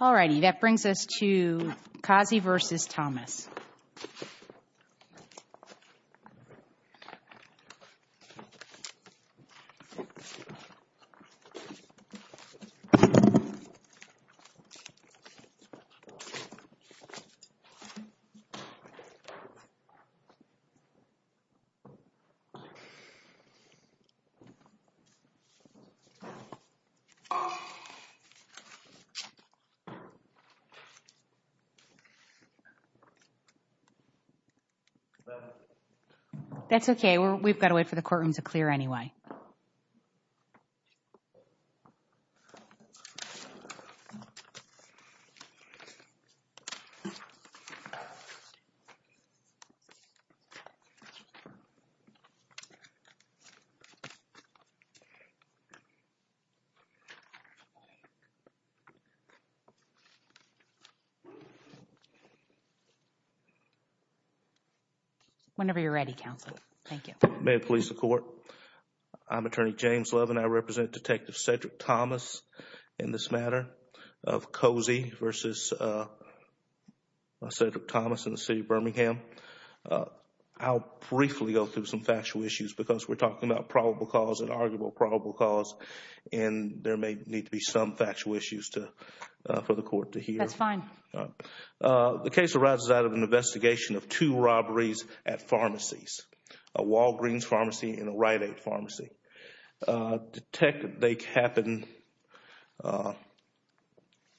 All righty, that brings us to Cozzi v. Thomas. That's okay, we've got to wait for the courtroom to clear anyway. Whenever you're ready, counsel, thank you. May it please the court, I'm Attorney James Levin, I represent Detective Cedrick Thomas in this matter of Cozzi v. Cedrick Thomas in the city of Birmingham. I'll briefly go through some factual issues because we're talking about probable cause and arguable probable cause and there may need to be some factual issues for the court to hear. That's fine. The case arises out of an investigation of two robberies at pharmacies, a Walgreens pharmacy and a Rite Aid pharmacy. They happened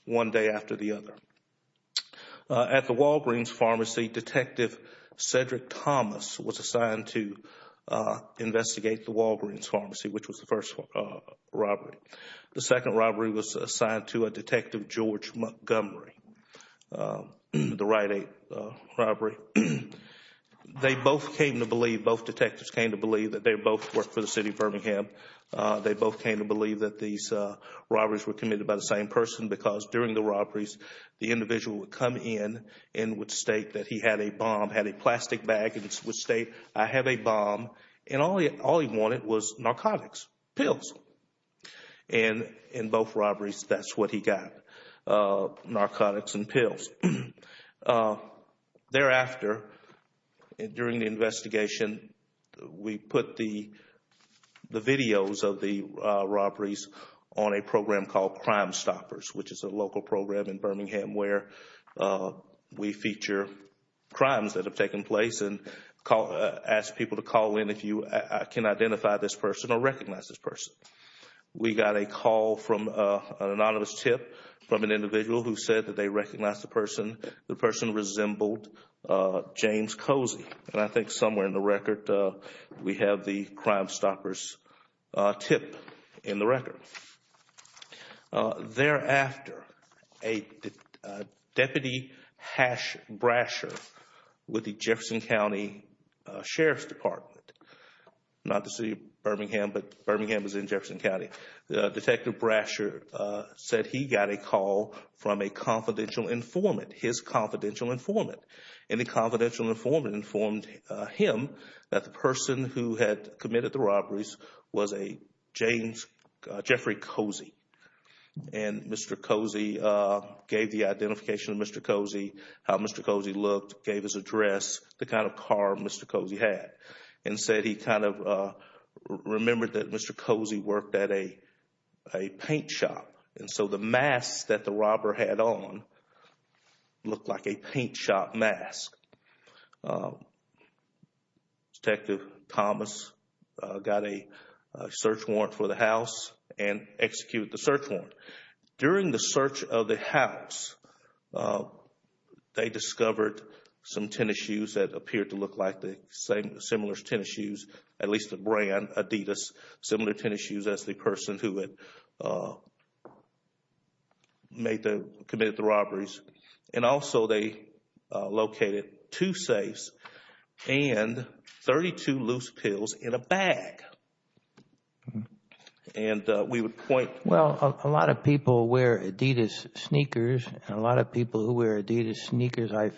one day after the other. At the Walgreens pharmacy, Detective Cedrick Thomas was assigned to investigate the Walgreens pharmacy, which was the first robbery. The second robbery was assigned to a Detective George Montgomery, the Rite Aid robbery. They both came to believe, both detectives came to believe that they both worked for the city of Birmingham. They both came to believe that these robberies were committed by the same person because during the robberies, the individual would come in and would state that he had a bomb, had a plastic bag and would state, I have a bomb. All he wanted was narcotics, pills. In both robberies, that's what he got, narcotics and pills. Thereafter, during the investigation, we put the videos of the robberies on a program called Crime Stoppers, which is a local program in Birmingham where we feature crimes that have happened if you can identify this person or recognize this person. We got a call from an anonymous tip from an individual who said that they recognized the person. The person resembled James Cozy. I think somewhere in the record, we have the Crime Stoppers tip in the record. Thereafter, Deputy Hash Brasher with the Jefferson County Sheriff's Department, not the city of Birmingham, but Birmingham is in Jefferson County. Detective Brasher said he got a call from a confidential informant, his confidential informant. And the confidential informant informed him that the person who had committed the robberies was a James, Jeffrey Cozy. And Mr. Cozy gave the identification of Mr. Cozy, how Mr. Cozy looked, gave his address, the kind of car Mr. Cozy had. And said he kind of remembered that Mr. Cozy worked at a paint shop. And so the mask that the robber had on looked like a paint shop mask. Detective Thomas got a search warrant for the house and executed the search warrant. During the search of the house, they discovered some tennis shoes that appeared to look like the same, similar tennis shoes, at least the brand, Adidas. Similar tennis shoes as the person who had committed the robberies. And also they located two safes and 32 loose pills in a bag. And we would point Well, a lot of people wear Adidas sneakers. And a lot of people who wear Adidas sneakers, I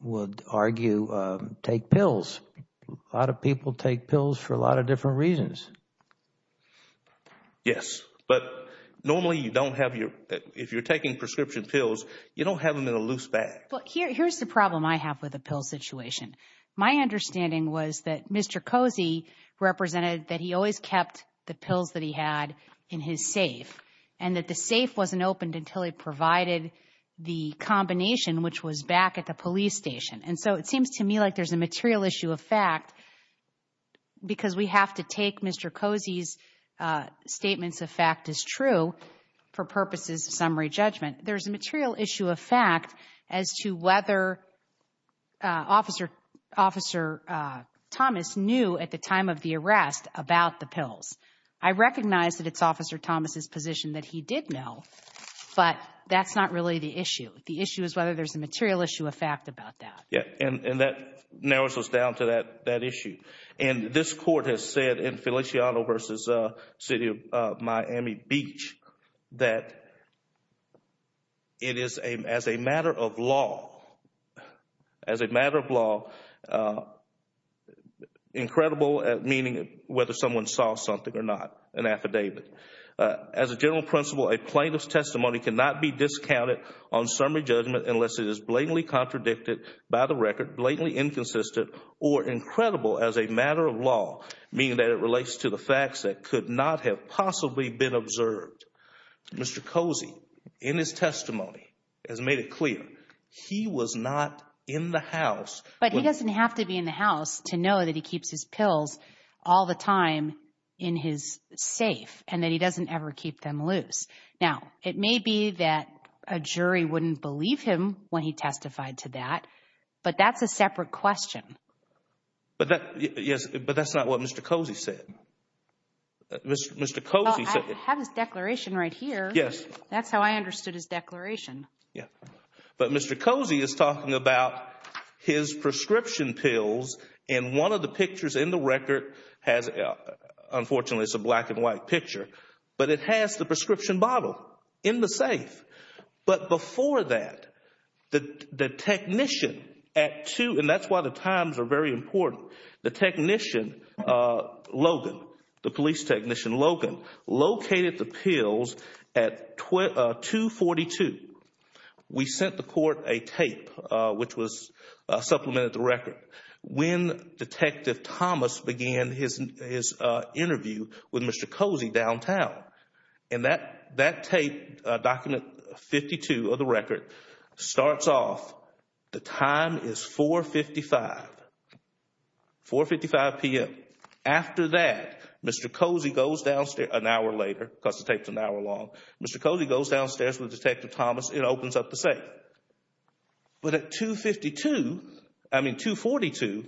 would argue, take pills. A lot of people take pills for a lot of different reasons. Yes. But normally you don't have your, if you're taking prescription pills, you don't have them in a loose bag. Here's the problem I have with the pill situation. My understanding was that Mr. Cozy represented that he always kept the pills that he had in his safe. And that the safe wasn't opened until he provided the combination, which was back at the police station. And so it seems to me like there's a material issue of fact. Because we have to take Mr. Cozy's statements of fact as true for purposes of summary judgment. There's a material issue of fact as to whether Officer Thomas knew at the time of the arrest about the pills. I recognize that it's Officer Thomas's position that he did know. But that's not really the issue. The issue is whether there's a material issue of fact about that. Yeah, and that narrows us down to that issue. And this court has said in Feliciano v. City of Miami Beach that it is as a matter of law, as a matter of law, incredible meaning whether someone saw something or not, an affidavit. As a general principle, a plaintiff's testimony cannot be discounted on summary judgment unless it is blatantly contradicted by the record, blatantly inconsistent or incredible as a matter of law, meaning that it relates to the facts that could not have possibly been observed. Mr. Cozy, in his testimony, has made it clear he was not in the house. But he doesn't have to be in the house to know that he keeps his pills all the time in his safe. And that he doesn't ever keep them loose. Now, it may be that a jury wouldn't believe him when he testified to that. But that's a separate question. But that's not what Mr. Cozy said. Mr. Cozy said. I have his declaration right here. Yes. That's how I understood his declaration. Yeah. But Mr. Cozy is talking about his prescription pills. And one of the pictures in the record has, unfortunately, it's a black and white picture. But it has the prescription bottle in the safe. But before that, the technician at 2, and that's why the times are very important. The technician, Logan, the police technician, Logan, located the pills at 242. We sent the court a tape, which was supplemented the record, when Detective Thomas began his interview with Mr. Cozy downtown. And that tape, document 52 of the record, starts off, the time is 455, 455 p.m. After that, Mr. Cozy goes downstairs, an hour later, because the tape is an hour long. Mr. Cozy goes downstairs with Detective Thomas. It opens up the safe. But at 252, I mean 242,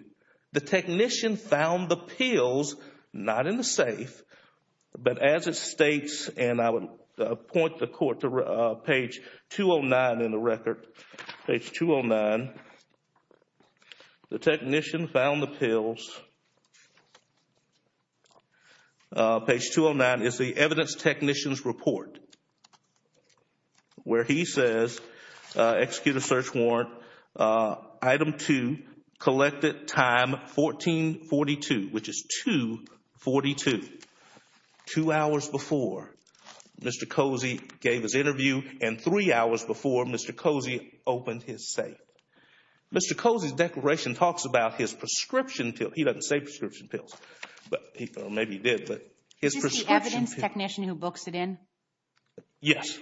the technician found the pills, not in the safe, but as it states. And I would point the court to page 209 in the record. The technician found the pills. Page 209 is the evidence technician's report, where he says, execute a search warrant, item 2, collected time 1442, which is 242. Two hours before Mr. Cozy gave his interview, and three hours before Mr. Cozy opened his safe. Mr. Cozy's declaration talks about his prescription pills. He doesn't say prescription pills. Maybe he did, but his prescription pills. Is this the evidence technician who books it in? Yes.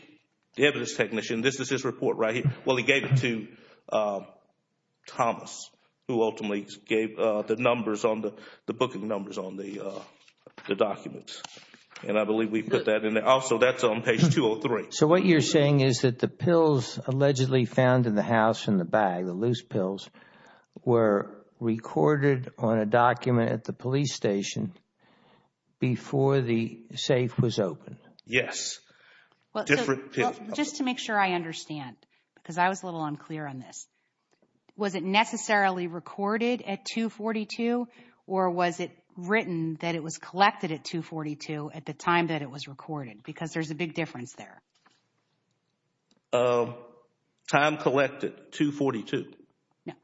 The evidence technician. This is his report, right? Well, he gave it to Thomas, who ultimately gave the numbers, the booking numbers on the documents. And I believe we put that in there. Also, that's on page 203. So what you're saying is that the pills allegedly found in the house in the bag, the loose pills, were recorded on a document at the police station before the safe was opened? Yes. Just to make sure I understand, because I was a little unclear on this. Was it necessarily recorded at 242, or was it written that it was collected at 242 at the time that it was recorded? Because there's a big difference there. Time collected, 242.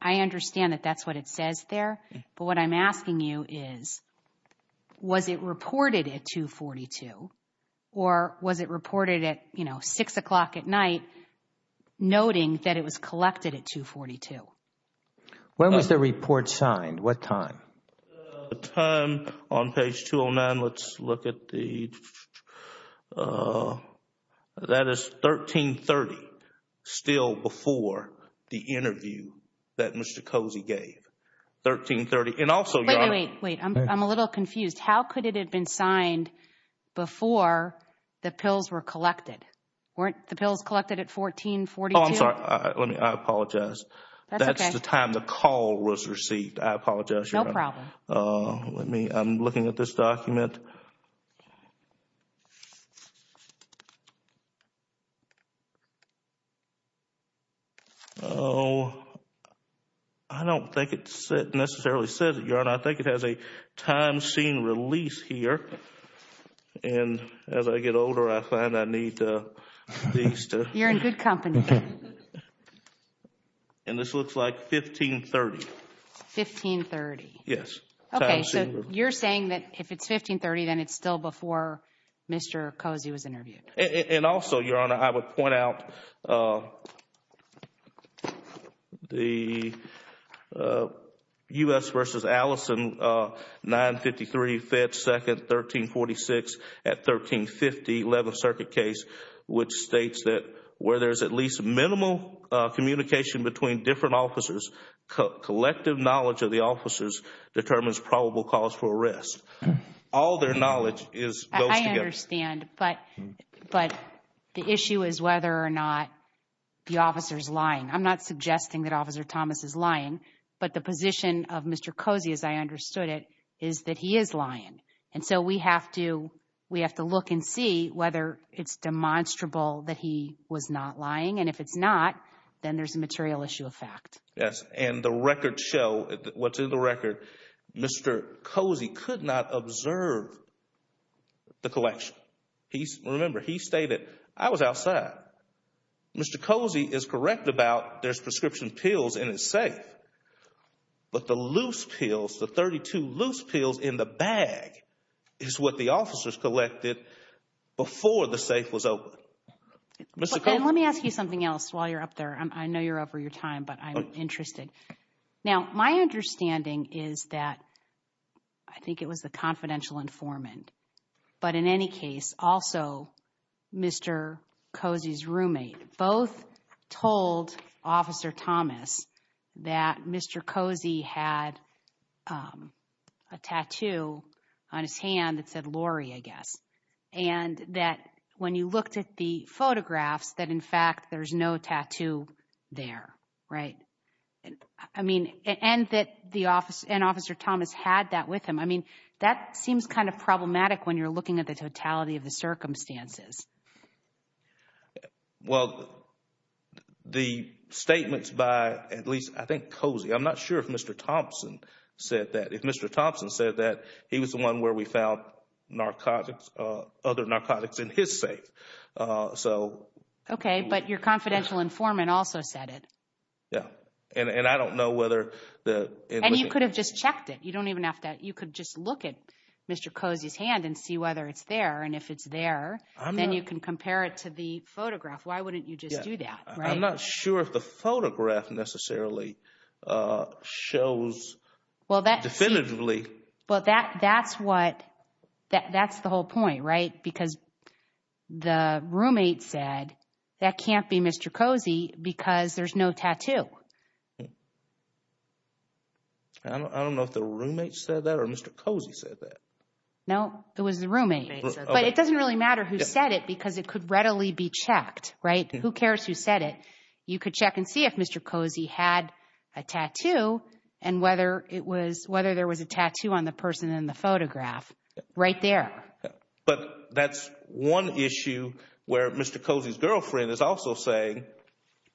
I understand that that's what it says there, but what I'm asking you is, was it reported at 242, or was it reported at, you know, 6 o'clock at night, noting that it was collected at 242? When was the report signed? What time? The time on page 209. Let's look at the, that is 1330, still before the interview that Mr. Cozy gave. 1330, and also, Your Honor. Wait, wait, wait. I'm a little confused. How could it have been signed before the pills were collected? Weren't the pills collected at 1442? Oh, I'm sorry. I apologize. That's okay. That's the time the call was received. I apologize, Your Honor. No problem. Let me, I'm looking at this document. I don't think it necessarily says it, Your Honor. I think it has a time seen release here. And as I get older, I find I need these to. You're in good company. And this looks like 1530. 1530. Yes. Okay, so you're saying that if it's 1530, then it's still before Mr. Cozy was interviewed. And also, Your Honor, I would point out the U.S. v. Allison, 953, Fed 2nd, 1346 at 1350, 11th Circuit case, which states that where there's at least minimal communication between different officers, collective knowledge of the officers determines probable cause for arrest. All their knowledge goes together. I understand. But the issue is whether or not the officer is lying. I'm not suggesting that Officer Thomas is lying. But the position of Mr. Cozy, as I understood it, is that he is lying. And so we have to look and see whether it's demonstrable that he was not lying. And if it's not, then there's a material issue of fact. Yes. And the records show, what's in the record, Mr. Cozy could not observe the collection. Remember, he stated, I was outside. Mr. Cozy is correct about there's prescription pills in his safe. But the loose pills, the 32 loose pills in the bag, is what the officers collected before the safe was opened. And let me ask you something else while you're up there. I know you're over your time, but I'm interested. Now, my understanding is that, I think it was the confidential informant. But in any case, also Mr. Cozy's roommate. Both told Officer Thomas that Mr. Cozy had a tattoo on his hand that said Lori, I guess. And that when you looked at the photographs, that in fact, there's no tattoo there. Right? I mean, and that Officer Thomas had that with him. I mean, that seems kind of problematic when you're looking at the totality of the circumstances. Well, the statements by, at least, I think Cozy. I'm not sure if Mr. Thompson said that. He was the one where we found narcotics, other narcotics in his safe. So. Okay. But your confidential informant also said it. Yeah. And I don't know whether the. And you could have just checked it. You don't even have to. You could just look at Mr. Cozy's hand and see whether it's there. And if it's there, then you can compare it to the photograph. Why wouldn't you just do that? I'm not sure if the photograph necessarily shows definitively. Well, that's what, that's the whole point, right? Because the roommate said that can't be Mr. Cozy because there's no tattoo. I don't know if the roommate said that or Mr. Cozy said that. No, it was the roommate. But it doesn't really matter who said it because it could readily be checked. Right? Who cares who said it? You could check and see if Mr. Cozy had a tattoo and whether it was, whether there was a tattoo on the person in the photograph right there. But that's one issue where Mr. Cozy's girlfriend is also saying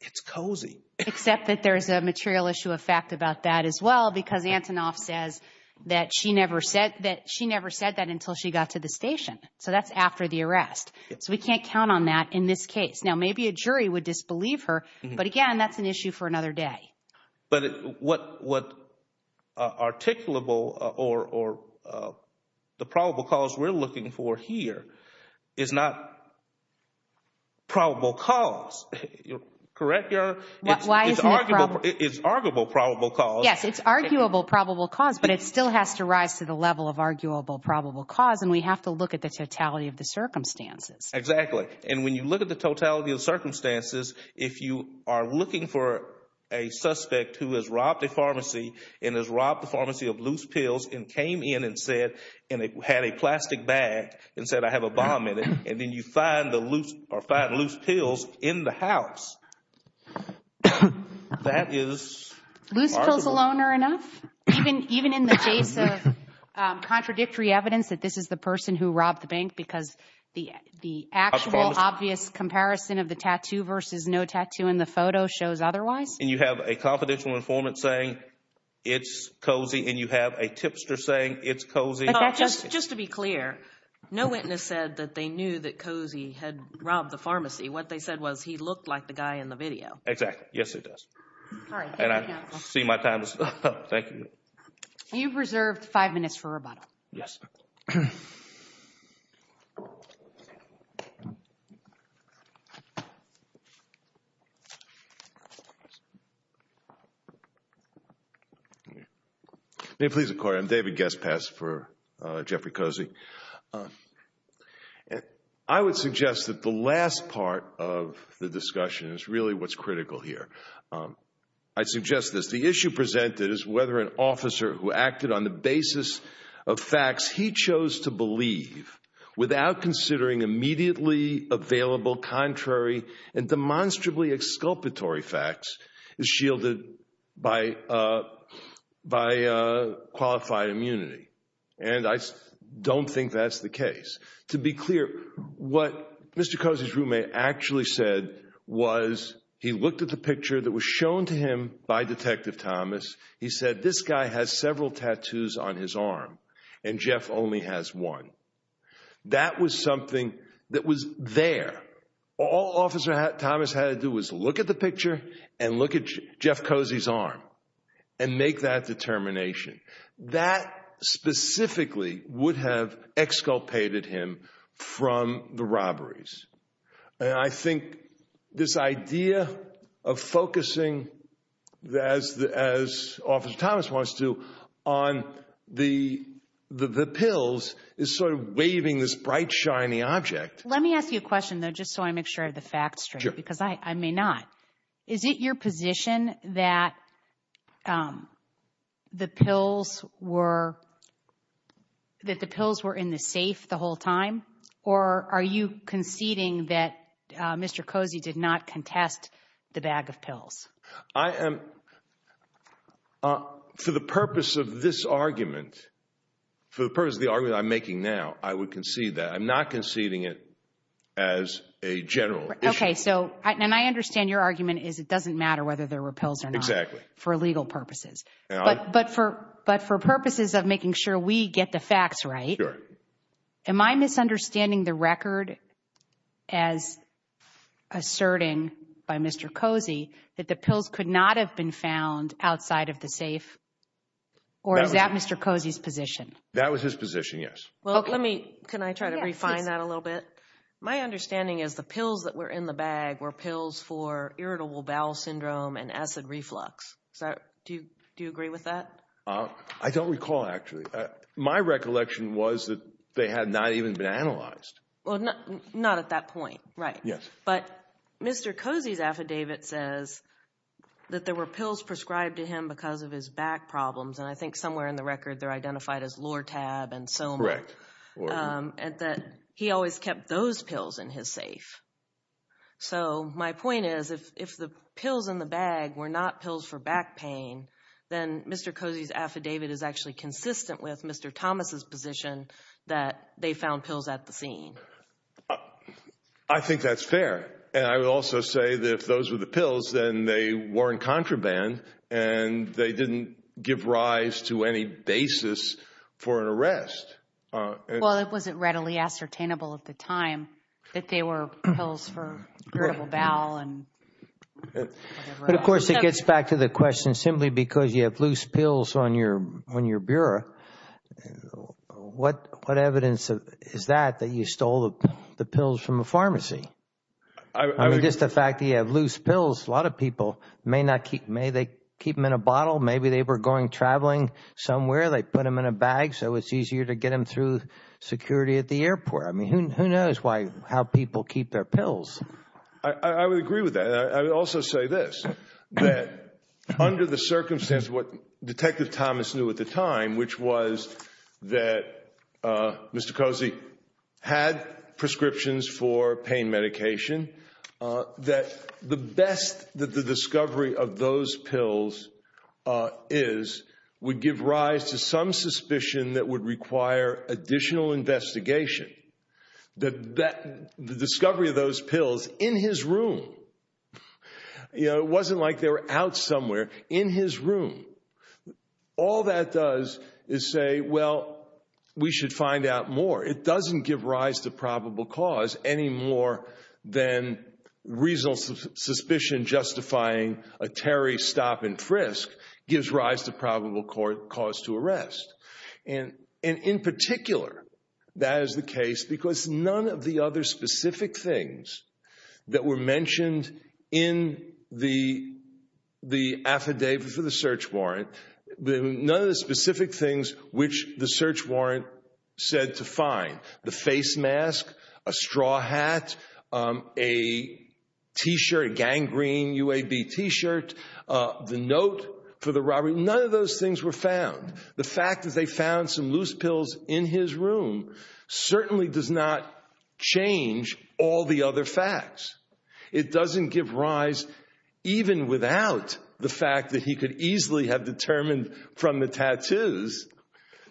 it's cozy. Except that there's a material issue of fact about that as well because Antonoff says that she never said, that she never said that until she got to the station. So that's after the arrest. So we can't count on that in this case. Now, maybe a jury would disbelieve her. But, again, that's an issue for another day. But what articulable or the probable cause we're looking for here is not probable cause. Correct, Your Honor? It's arguable probable cause. Yes, it's arguable probable cause, but it still has to rise to the level of arguable probable cause, and we have to look at the totality of the circumstances. Exactly. And when you look at the totality of the circumstances, if you are looking for a suspect who has robbed a pharmacy and has robbed the pharmacy of loose pills and came in and said, and had a plastic bag and said, I have a bomb in it and then you find the loose, or find loose pills in the house, that is arguable. Loose pills alone are enough? Even in the case of contradictory evidence that this is the person who robbed the bank because the actual obvious comparison of the tattoo versus no tattoo in the photo shows otherwise? And you have a confidential informant saying it's Cozy, and you have a tipster saying it's Cozy. Just to be clear, no witness said that they knew that Cozy had robbed the pharmacy. What they said was he looked like the guy in the video. Exactly. Yes, it does. And I see my time is up. Thank you. You've reserved five minutes for rebuttal. Yes. Thank you. May it please the Court, I'm David Guest-Pass for Jeffrey Cozy. I would suggest that the last part of the discussion is really what's critical here. I'd suggest this. The issue presented is whether an officer who acted on the basis of facts he chose to believe, without considering immediately available contrary and demonstrably exculpatory facts, is shielded by qualified immunity. And I don't think that's the case. To be clear, what Mr. Cozy's roommate actually said was he looked at the picture that was shown to him by Detective Thomas. He said this guy has several tattoos on his arm, and Jeff only has one. That was something that was there. All Officer Thomas had to do was look at the picture and look at Jeff Cozy's arm and make that determination. That specifically would have exculpated him from the robberies. And I think this idea of focusing, as Officer Thomas wants to, on the pills is sort of waving this bright, shiny object. Let me ask you a question, though, just so I make sure I have the facts straight, because I may not. Is it your position that the pills were in the safe the whole time, or are you conceding that Mr. Cozy did not contest the bag of pills? For the purpose of this argument, for the purpose of the argument I'm making now, I would concede that. I'm not conceding it as a general issue. Okay, so, and I understand your argument is it doesn't matter whether there were pills or not. Exactly. For legal purposes. But for purposes of making sure we get the facts right, am I misunderstanding the record as asserting by Mr. Cozy that the pills could not have been found outside of the safe, or is that Mr. Cozy's position? That was his position, yes. Well, let me, can I try to refine that a little bit? My understanding is the pills that were in the bag were pills for irritable bowel syndrome and acid reflux. Do you agree with that? I don't recall, actually. My recollection was that they had not even been analyzed. Well, not at that point, right. Yes. But Mr. Cozy's affidavit says that there were pills prescribed to him because of his back problems, and I think somewhere in the record they're identified as Lortab and Soma. Correct. And that he always kept those pills in his safe. So my point is, if the pills in the bag were not pills for back pain, then Mr. Cozy's affidavit is actually consistent with Mr. Thomas' position that they found pills at the scene. I think that's fair, and I would also say that if those were the pills, then they weren't contraband and they didn't give rise to any basis for an arrest. Well, it wasn't readily ascertainable at the time that they were pills for irritable bowel and whatever else. But, of course, it gets back to the question, simply because you have loose pills on your bureau, what evidence is that that you stole the pills from a pharmacy? I mean, just the fact that you have loose pills, a lot of people may keep them in a bottle. Maybe they were going traveling somewhere. They put them in a bag so it's easier to get them through security at the airport. I mean, who knows how people keep their pills. I would agree with that. I would also say this, that under the circumstance of what Detective Thomas knew at the time, which was that Mr. Cozy had prescriptions for pain medication, that the best that the discovery of those pills is would give rise to some suspicion that would require additional investigation. The discovery of those pills in his room, it wasn't like they were out somewhere, in his room. All that does is say, well, we should find out more. It doesn't give rise to probable cause any more than reasonable suspicion justifying a Terry stop and frisk gives rise to probable cause to arrest. In particular, that is the case because none of the other specific things that were mentioned in the affidavit for the search warrant, none of the specific things which the search warrant said to find, the face mask, a straw hat, a t-shirt, gangrene, UAB t-shirt, the note for the robbery, none of those things were found. The fact that they found some loose pills in his room certainly does not change all the other facts. It doesn't give rise, even without the fact that he could easily have determined from the tattoos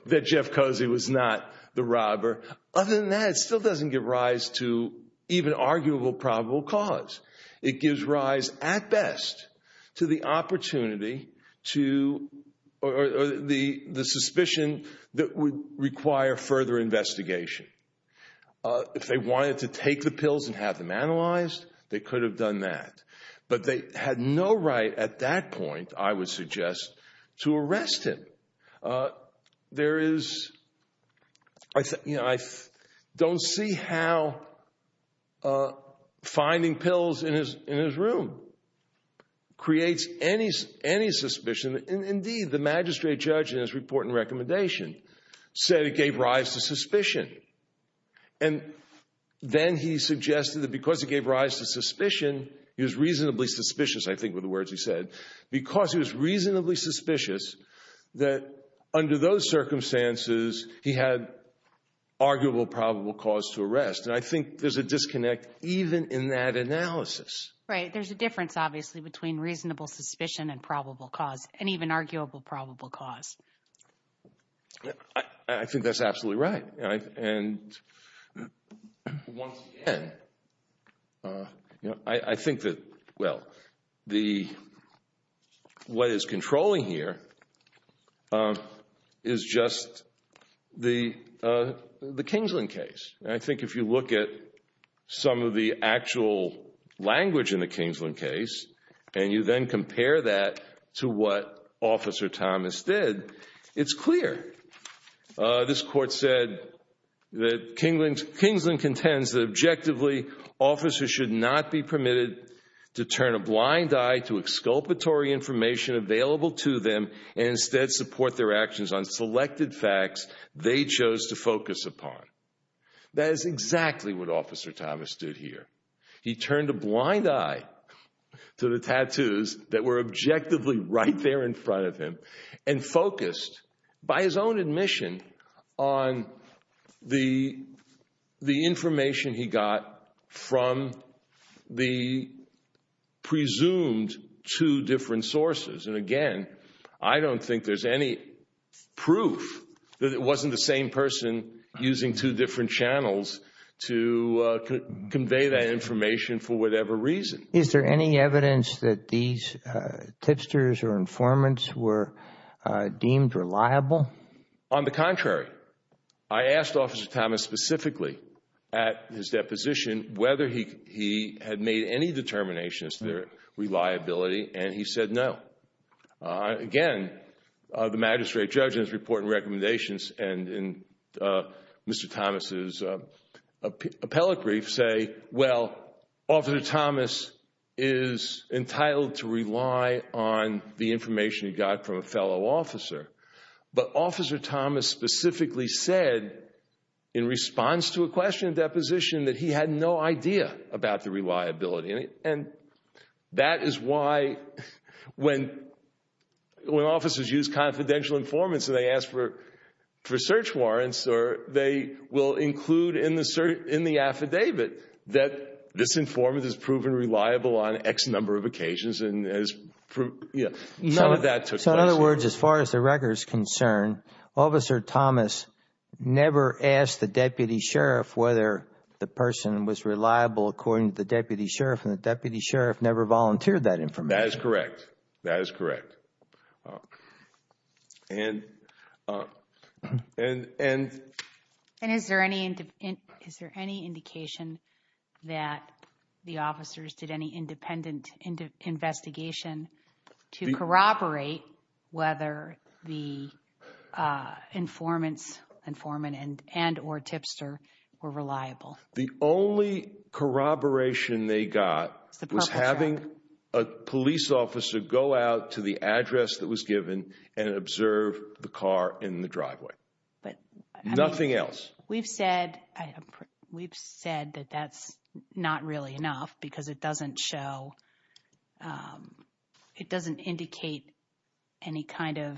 that Jeff Cozy was not the robber. Other than that, it still doesn't give rise to even arguable probable cause. It gives rise, at best, to the opportunity to, or the suspicion that would require further investigation. If they wanted to take the pills and have them analyzed, they could have done that. But they had no right at that point, I would suggest, to arrest him. I don't see how finding pills in his room creates any suspicion. Indeed, the magistrate judge in his report and recommendation said it gave rise to suspicion. And then he suggested that because it gave rise to suspicion, he was reasonably suspicious, I think were the words he said, because he was reasonably suspicious, that under those circumstances he had arguable probable cause to arrest. And I think there's a disconnect even in that analysis. Right. There's a difference, obviously, between reasonable suspicion and probable cause, and even arguable probable cause. I think that's absolutely right. And once again, I think that, well, what is controlling here is just the Kingsland case. I think if you look at some of the actual language in the Kingsland case, and you then compare that to what Officer Thomas did, it's clear. This court said that Kingsland contends that, objectively, officers should not be permitted to turn a blind eye to exculpatory information available to them and instead support their actions on selected facts they chose to focus upon. That is exactly what Officer Thomas did here. He turned a blind eye to the tattoos that were objectively right there in front of him and focused, by his own admission, on the information he got from the presumed two different sources. And again, I don't think there's any proof that it wasn't the same person using two different channels to convey that information for whatever reason. Is there any evidence that these tipsters or informants were deemed reliable? On the contrary. I asked Officer Thomas specifically at his deposition whether he had made any determinations to reliability, and he said no. Again, the magistrate judge in his report and recommendations and in Mr. Thomas' appellate brief say, well, Officer Thomas is entitled to rely on the information he got from a fellow officer. But Officer Thomas specifically said, in response to a question at deposition, that he had no idea about the reliability. And that is why, when officers use confidential informants and they ask for search warrants, they will include in the affidavit that this informant has proven reliable on X number of occasions. None of that took place here. So, in other words, as far as the record is concerned, Officer Thomas never asked the deputy sheriff whether the person was reliable, according to the deputy sheriff, and the deputy sheriff never volunteered that information. That is correct. That is correct. And... And is there any indication that the officers did any independent investigation to corroborate whether the informants, informant and or tipster were reliable? The only corroboration they got was having a police officer go out to the address that was given and observe the car in the driveway. But... Nothing else. We've said that that's not really enough because it doesn't show, it doesn't indicate any kind of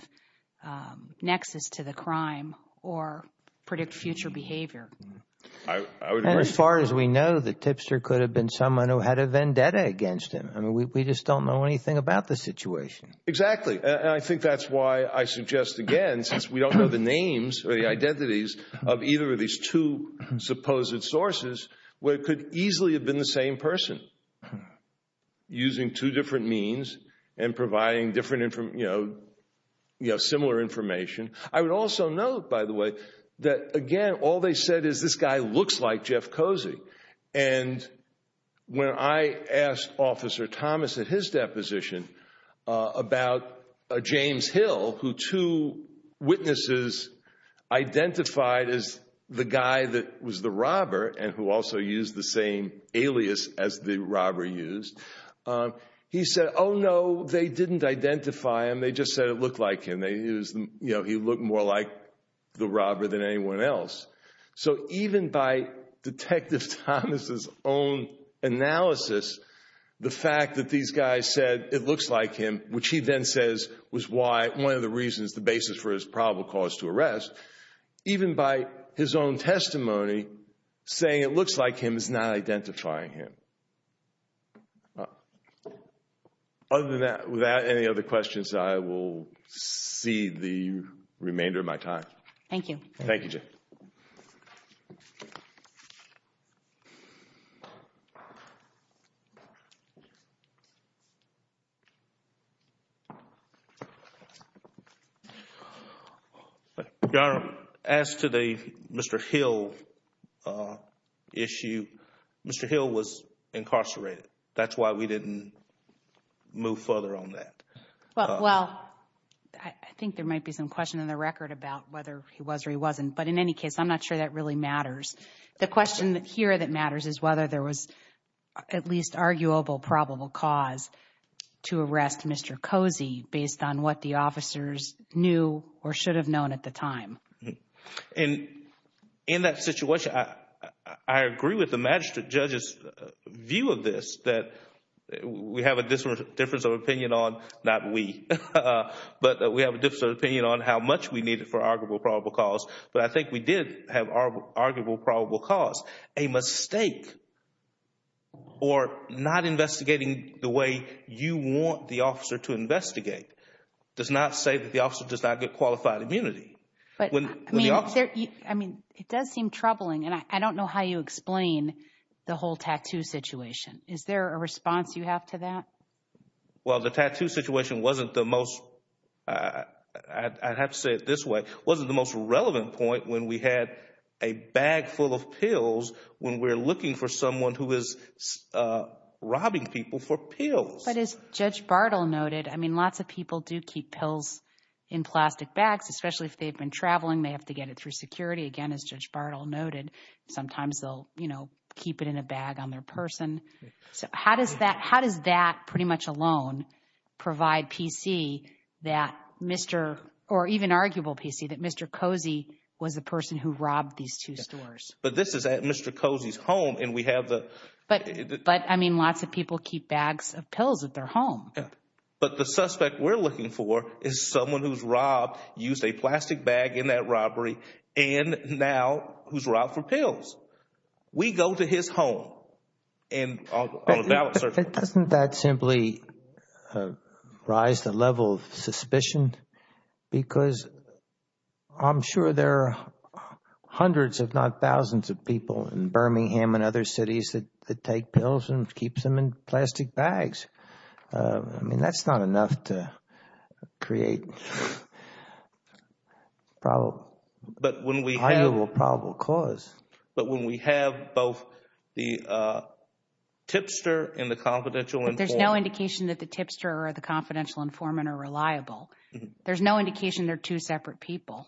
nexus to the crime or predict future behavior. And as far as we know, the tipster could have been someone who had a vendetta against him. I mean, we just don't know anything about the situation. Exactly. And I think that's why I suggest, again, since we don't know the names or the identities of either of these two supposed sources, where it could easily have been the same person using two different means and providing different, you know, similar information. I would also note, by the way, that, again, all they said is this guy looks like Jeff Cozy. And when I asked Officer Thomas at his deposition about James Hill, who two witnesses identified as the guy that was the robber and who also used the same alias as the robber used, he said, oh, no, they didn't identify him. They just said it looked like him. You know, he looked more like the robber than anyone else. So even by Detective Thomas' own analysis, the fact that these guys said it looks like him, which he then says was one of the reasons, the basis for his probable cause to arrest, even by his own testimony, saying it looks like him is not identifying him. Other than that, without any other questions, I will cede the remainder of my time. Thank you. Thank you, Jen. Thank you. Your Honor, as to the Mr. Hill issue, Mr. Hill was incarcerated. That's why we didn't move further on that. Well, I think there might be some question in the record about whether he was or he wasn't. But in any case, I'm not sure that really matters. The question here that matters is whether there was at least arguable probable cause to arrest Mr. Cozy based on what the officers knew or should have known at the time. And in that situation, I agree with the magistrate judge's view of this, that we have a difference of opinion on, not we, but we have a difference of opinion on how much we needed for arguable probable cause. But I think we did have arguable probable cause. A mistake or not investigating the way you want the officer to investigate does not say that the officer does not get qualified immunity. I mean, it does seem troubling, and I don't know how you explain the whole tattoo situation. Is there a response you have to that? Well, the tattoo situation wasn't the most, I have to say it this way, wasn't the most relevant point when we had a bag full of pills when we're looking for someone who is robbing people for pills. But as Judge Bartle noted, I mean, lots of people do keep pills in plastic bags, especially if they've been traveling, they have to get it through security. Again, as Judge Bartle noted, sometimes they'll, you know, keep it in a bag on their person. So how does that, how does that pretty much alone provide PC that Mr., or even arguable PC, that Mr. Cozy was the person who robbed these two stores? But this is at Mr. Cozy's home, and we have the. But, I mean, lots of people keep bags of pills at their home. Yeah. But the suspect we're looking for is someone who's robbed, used a plastic bag in that robbery, and now who's robbed for pills. We go to his home on a ballot search. But doesn't that simply rise the level of suspicion? Because I'm sure there are hundreds, if not thousands, of people in Birmingham and other cities that take pills and keep them in plastic bags. I mean, that's not enough to create probable, arguable probable cause. But when we have both the tipster and the confidential informant. There's no indication that the tipster or the confidential informant are reliable. There's no indication they're two separate people.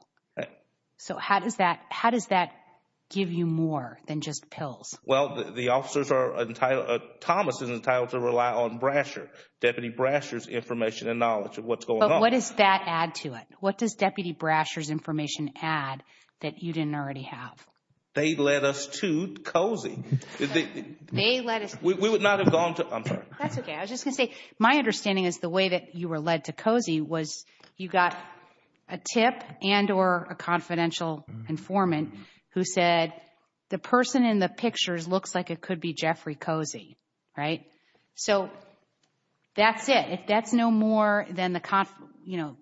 So how does that, how does that give you more than just pills? Well, the officers are entitled, Thomas is entitled to rely on Brasher, Deputy Brasher's information and knowledge of what's going on. But what does that add to it? What does Deputy Brasher's information add that you didn't already have? They led us to Cozy. They led us. We would not have gone to, I'm sorry. That's okay. I was just going to say, my understanding is the way that you were led to Cozy was you got a tip and or a confidential informant who said, the person in the pictures looks like it could be Jeffrey Cozy. Right? So that's it. If that's no more than the, you know,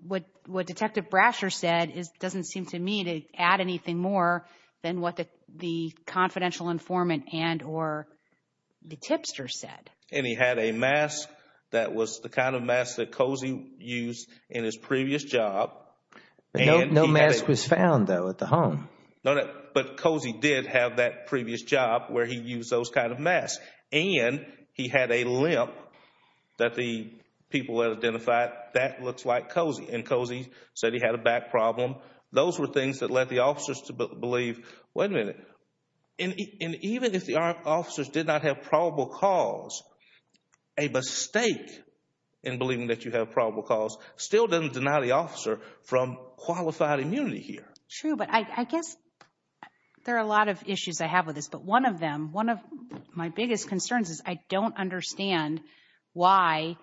what Detective Brasher said doesn't seem to me to add anything more than what the confidential informant and or the tipster said. And he had a mask that was the kind of mask that Cozy used in his previous job. No mask was found though at the home. But Cozy did have that previous job where he used those kind of masks. And he had a limp that the people had identified. That looks like Cozy. And Cozy said he had a back problem. Those were things that led the officers to believe, wait a minute, and even if the officers did not have probable cause, a mistake in believing that you have probable cause still doesn't deny the officer from qualified immunity here. True, but I guess there are a lot of issues I have with this. But one of them, one of my biggest concerns is I don't understand why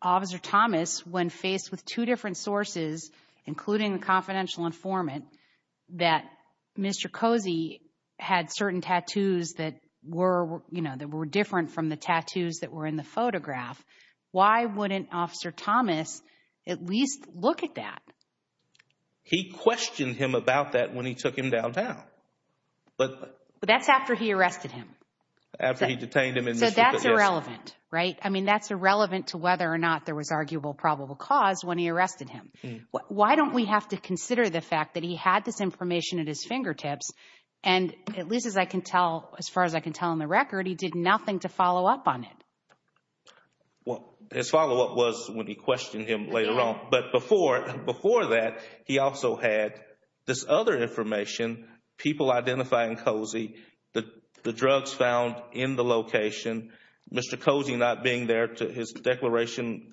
Officer Thomas, when faced with two different sources, including the confidential informant, that Mr. Cozy had certain tattoos that were, you know, that were different from the tattoos that were in the photograph. Why wouldn't Officer Thomas at least look at that? He questioned him about that when he took him downtown. But that's after he arrested him. After he detained him. So that's irrelevant, right? I mean, that's irrelevant to whether or not there was arguable probable cause when he arrested him. Why don't we have to consider the fact that he had this information at his fingertips, and at least as I can tell, as far as I can tell on the record, he did nothing to follow up on it. Well, his follow up was when he questioned him later on. But before that, he also had this other information, people identifying Cozy, the drugs found in the location. Mr. Cozy not being there to his declaration,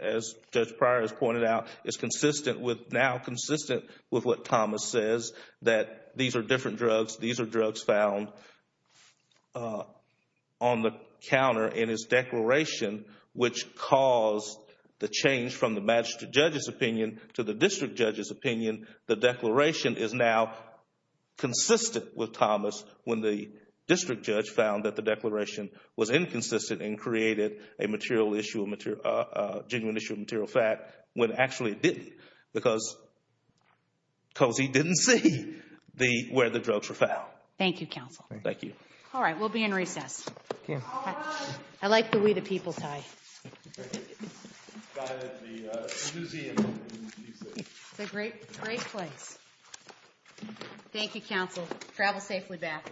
as Judge Pryor has pointed out, is consistent with now consistent with what Thomas says, that these are different drugs. These are drugs found on the counter in his declaration, which caused the change from the magistrate judge's opinion to the district judge's opinion. The declaration is now consistent with Thomas when the district judge found that the declaration was inconsistent and created a material issue, a genuine issue of material fact, when actually it didn't. Because Cozy didn't see where the drugs were found. Thank you, counsel. Thank you. All right, we'll be in recess. I like the we the people tie. It's a great place. Thank you, counsel. Travel safely back. Thank you.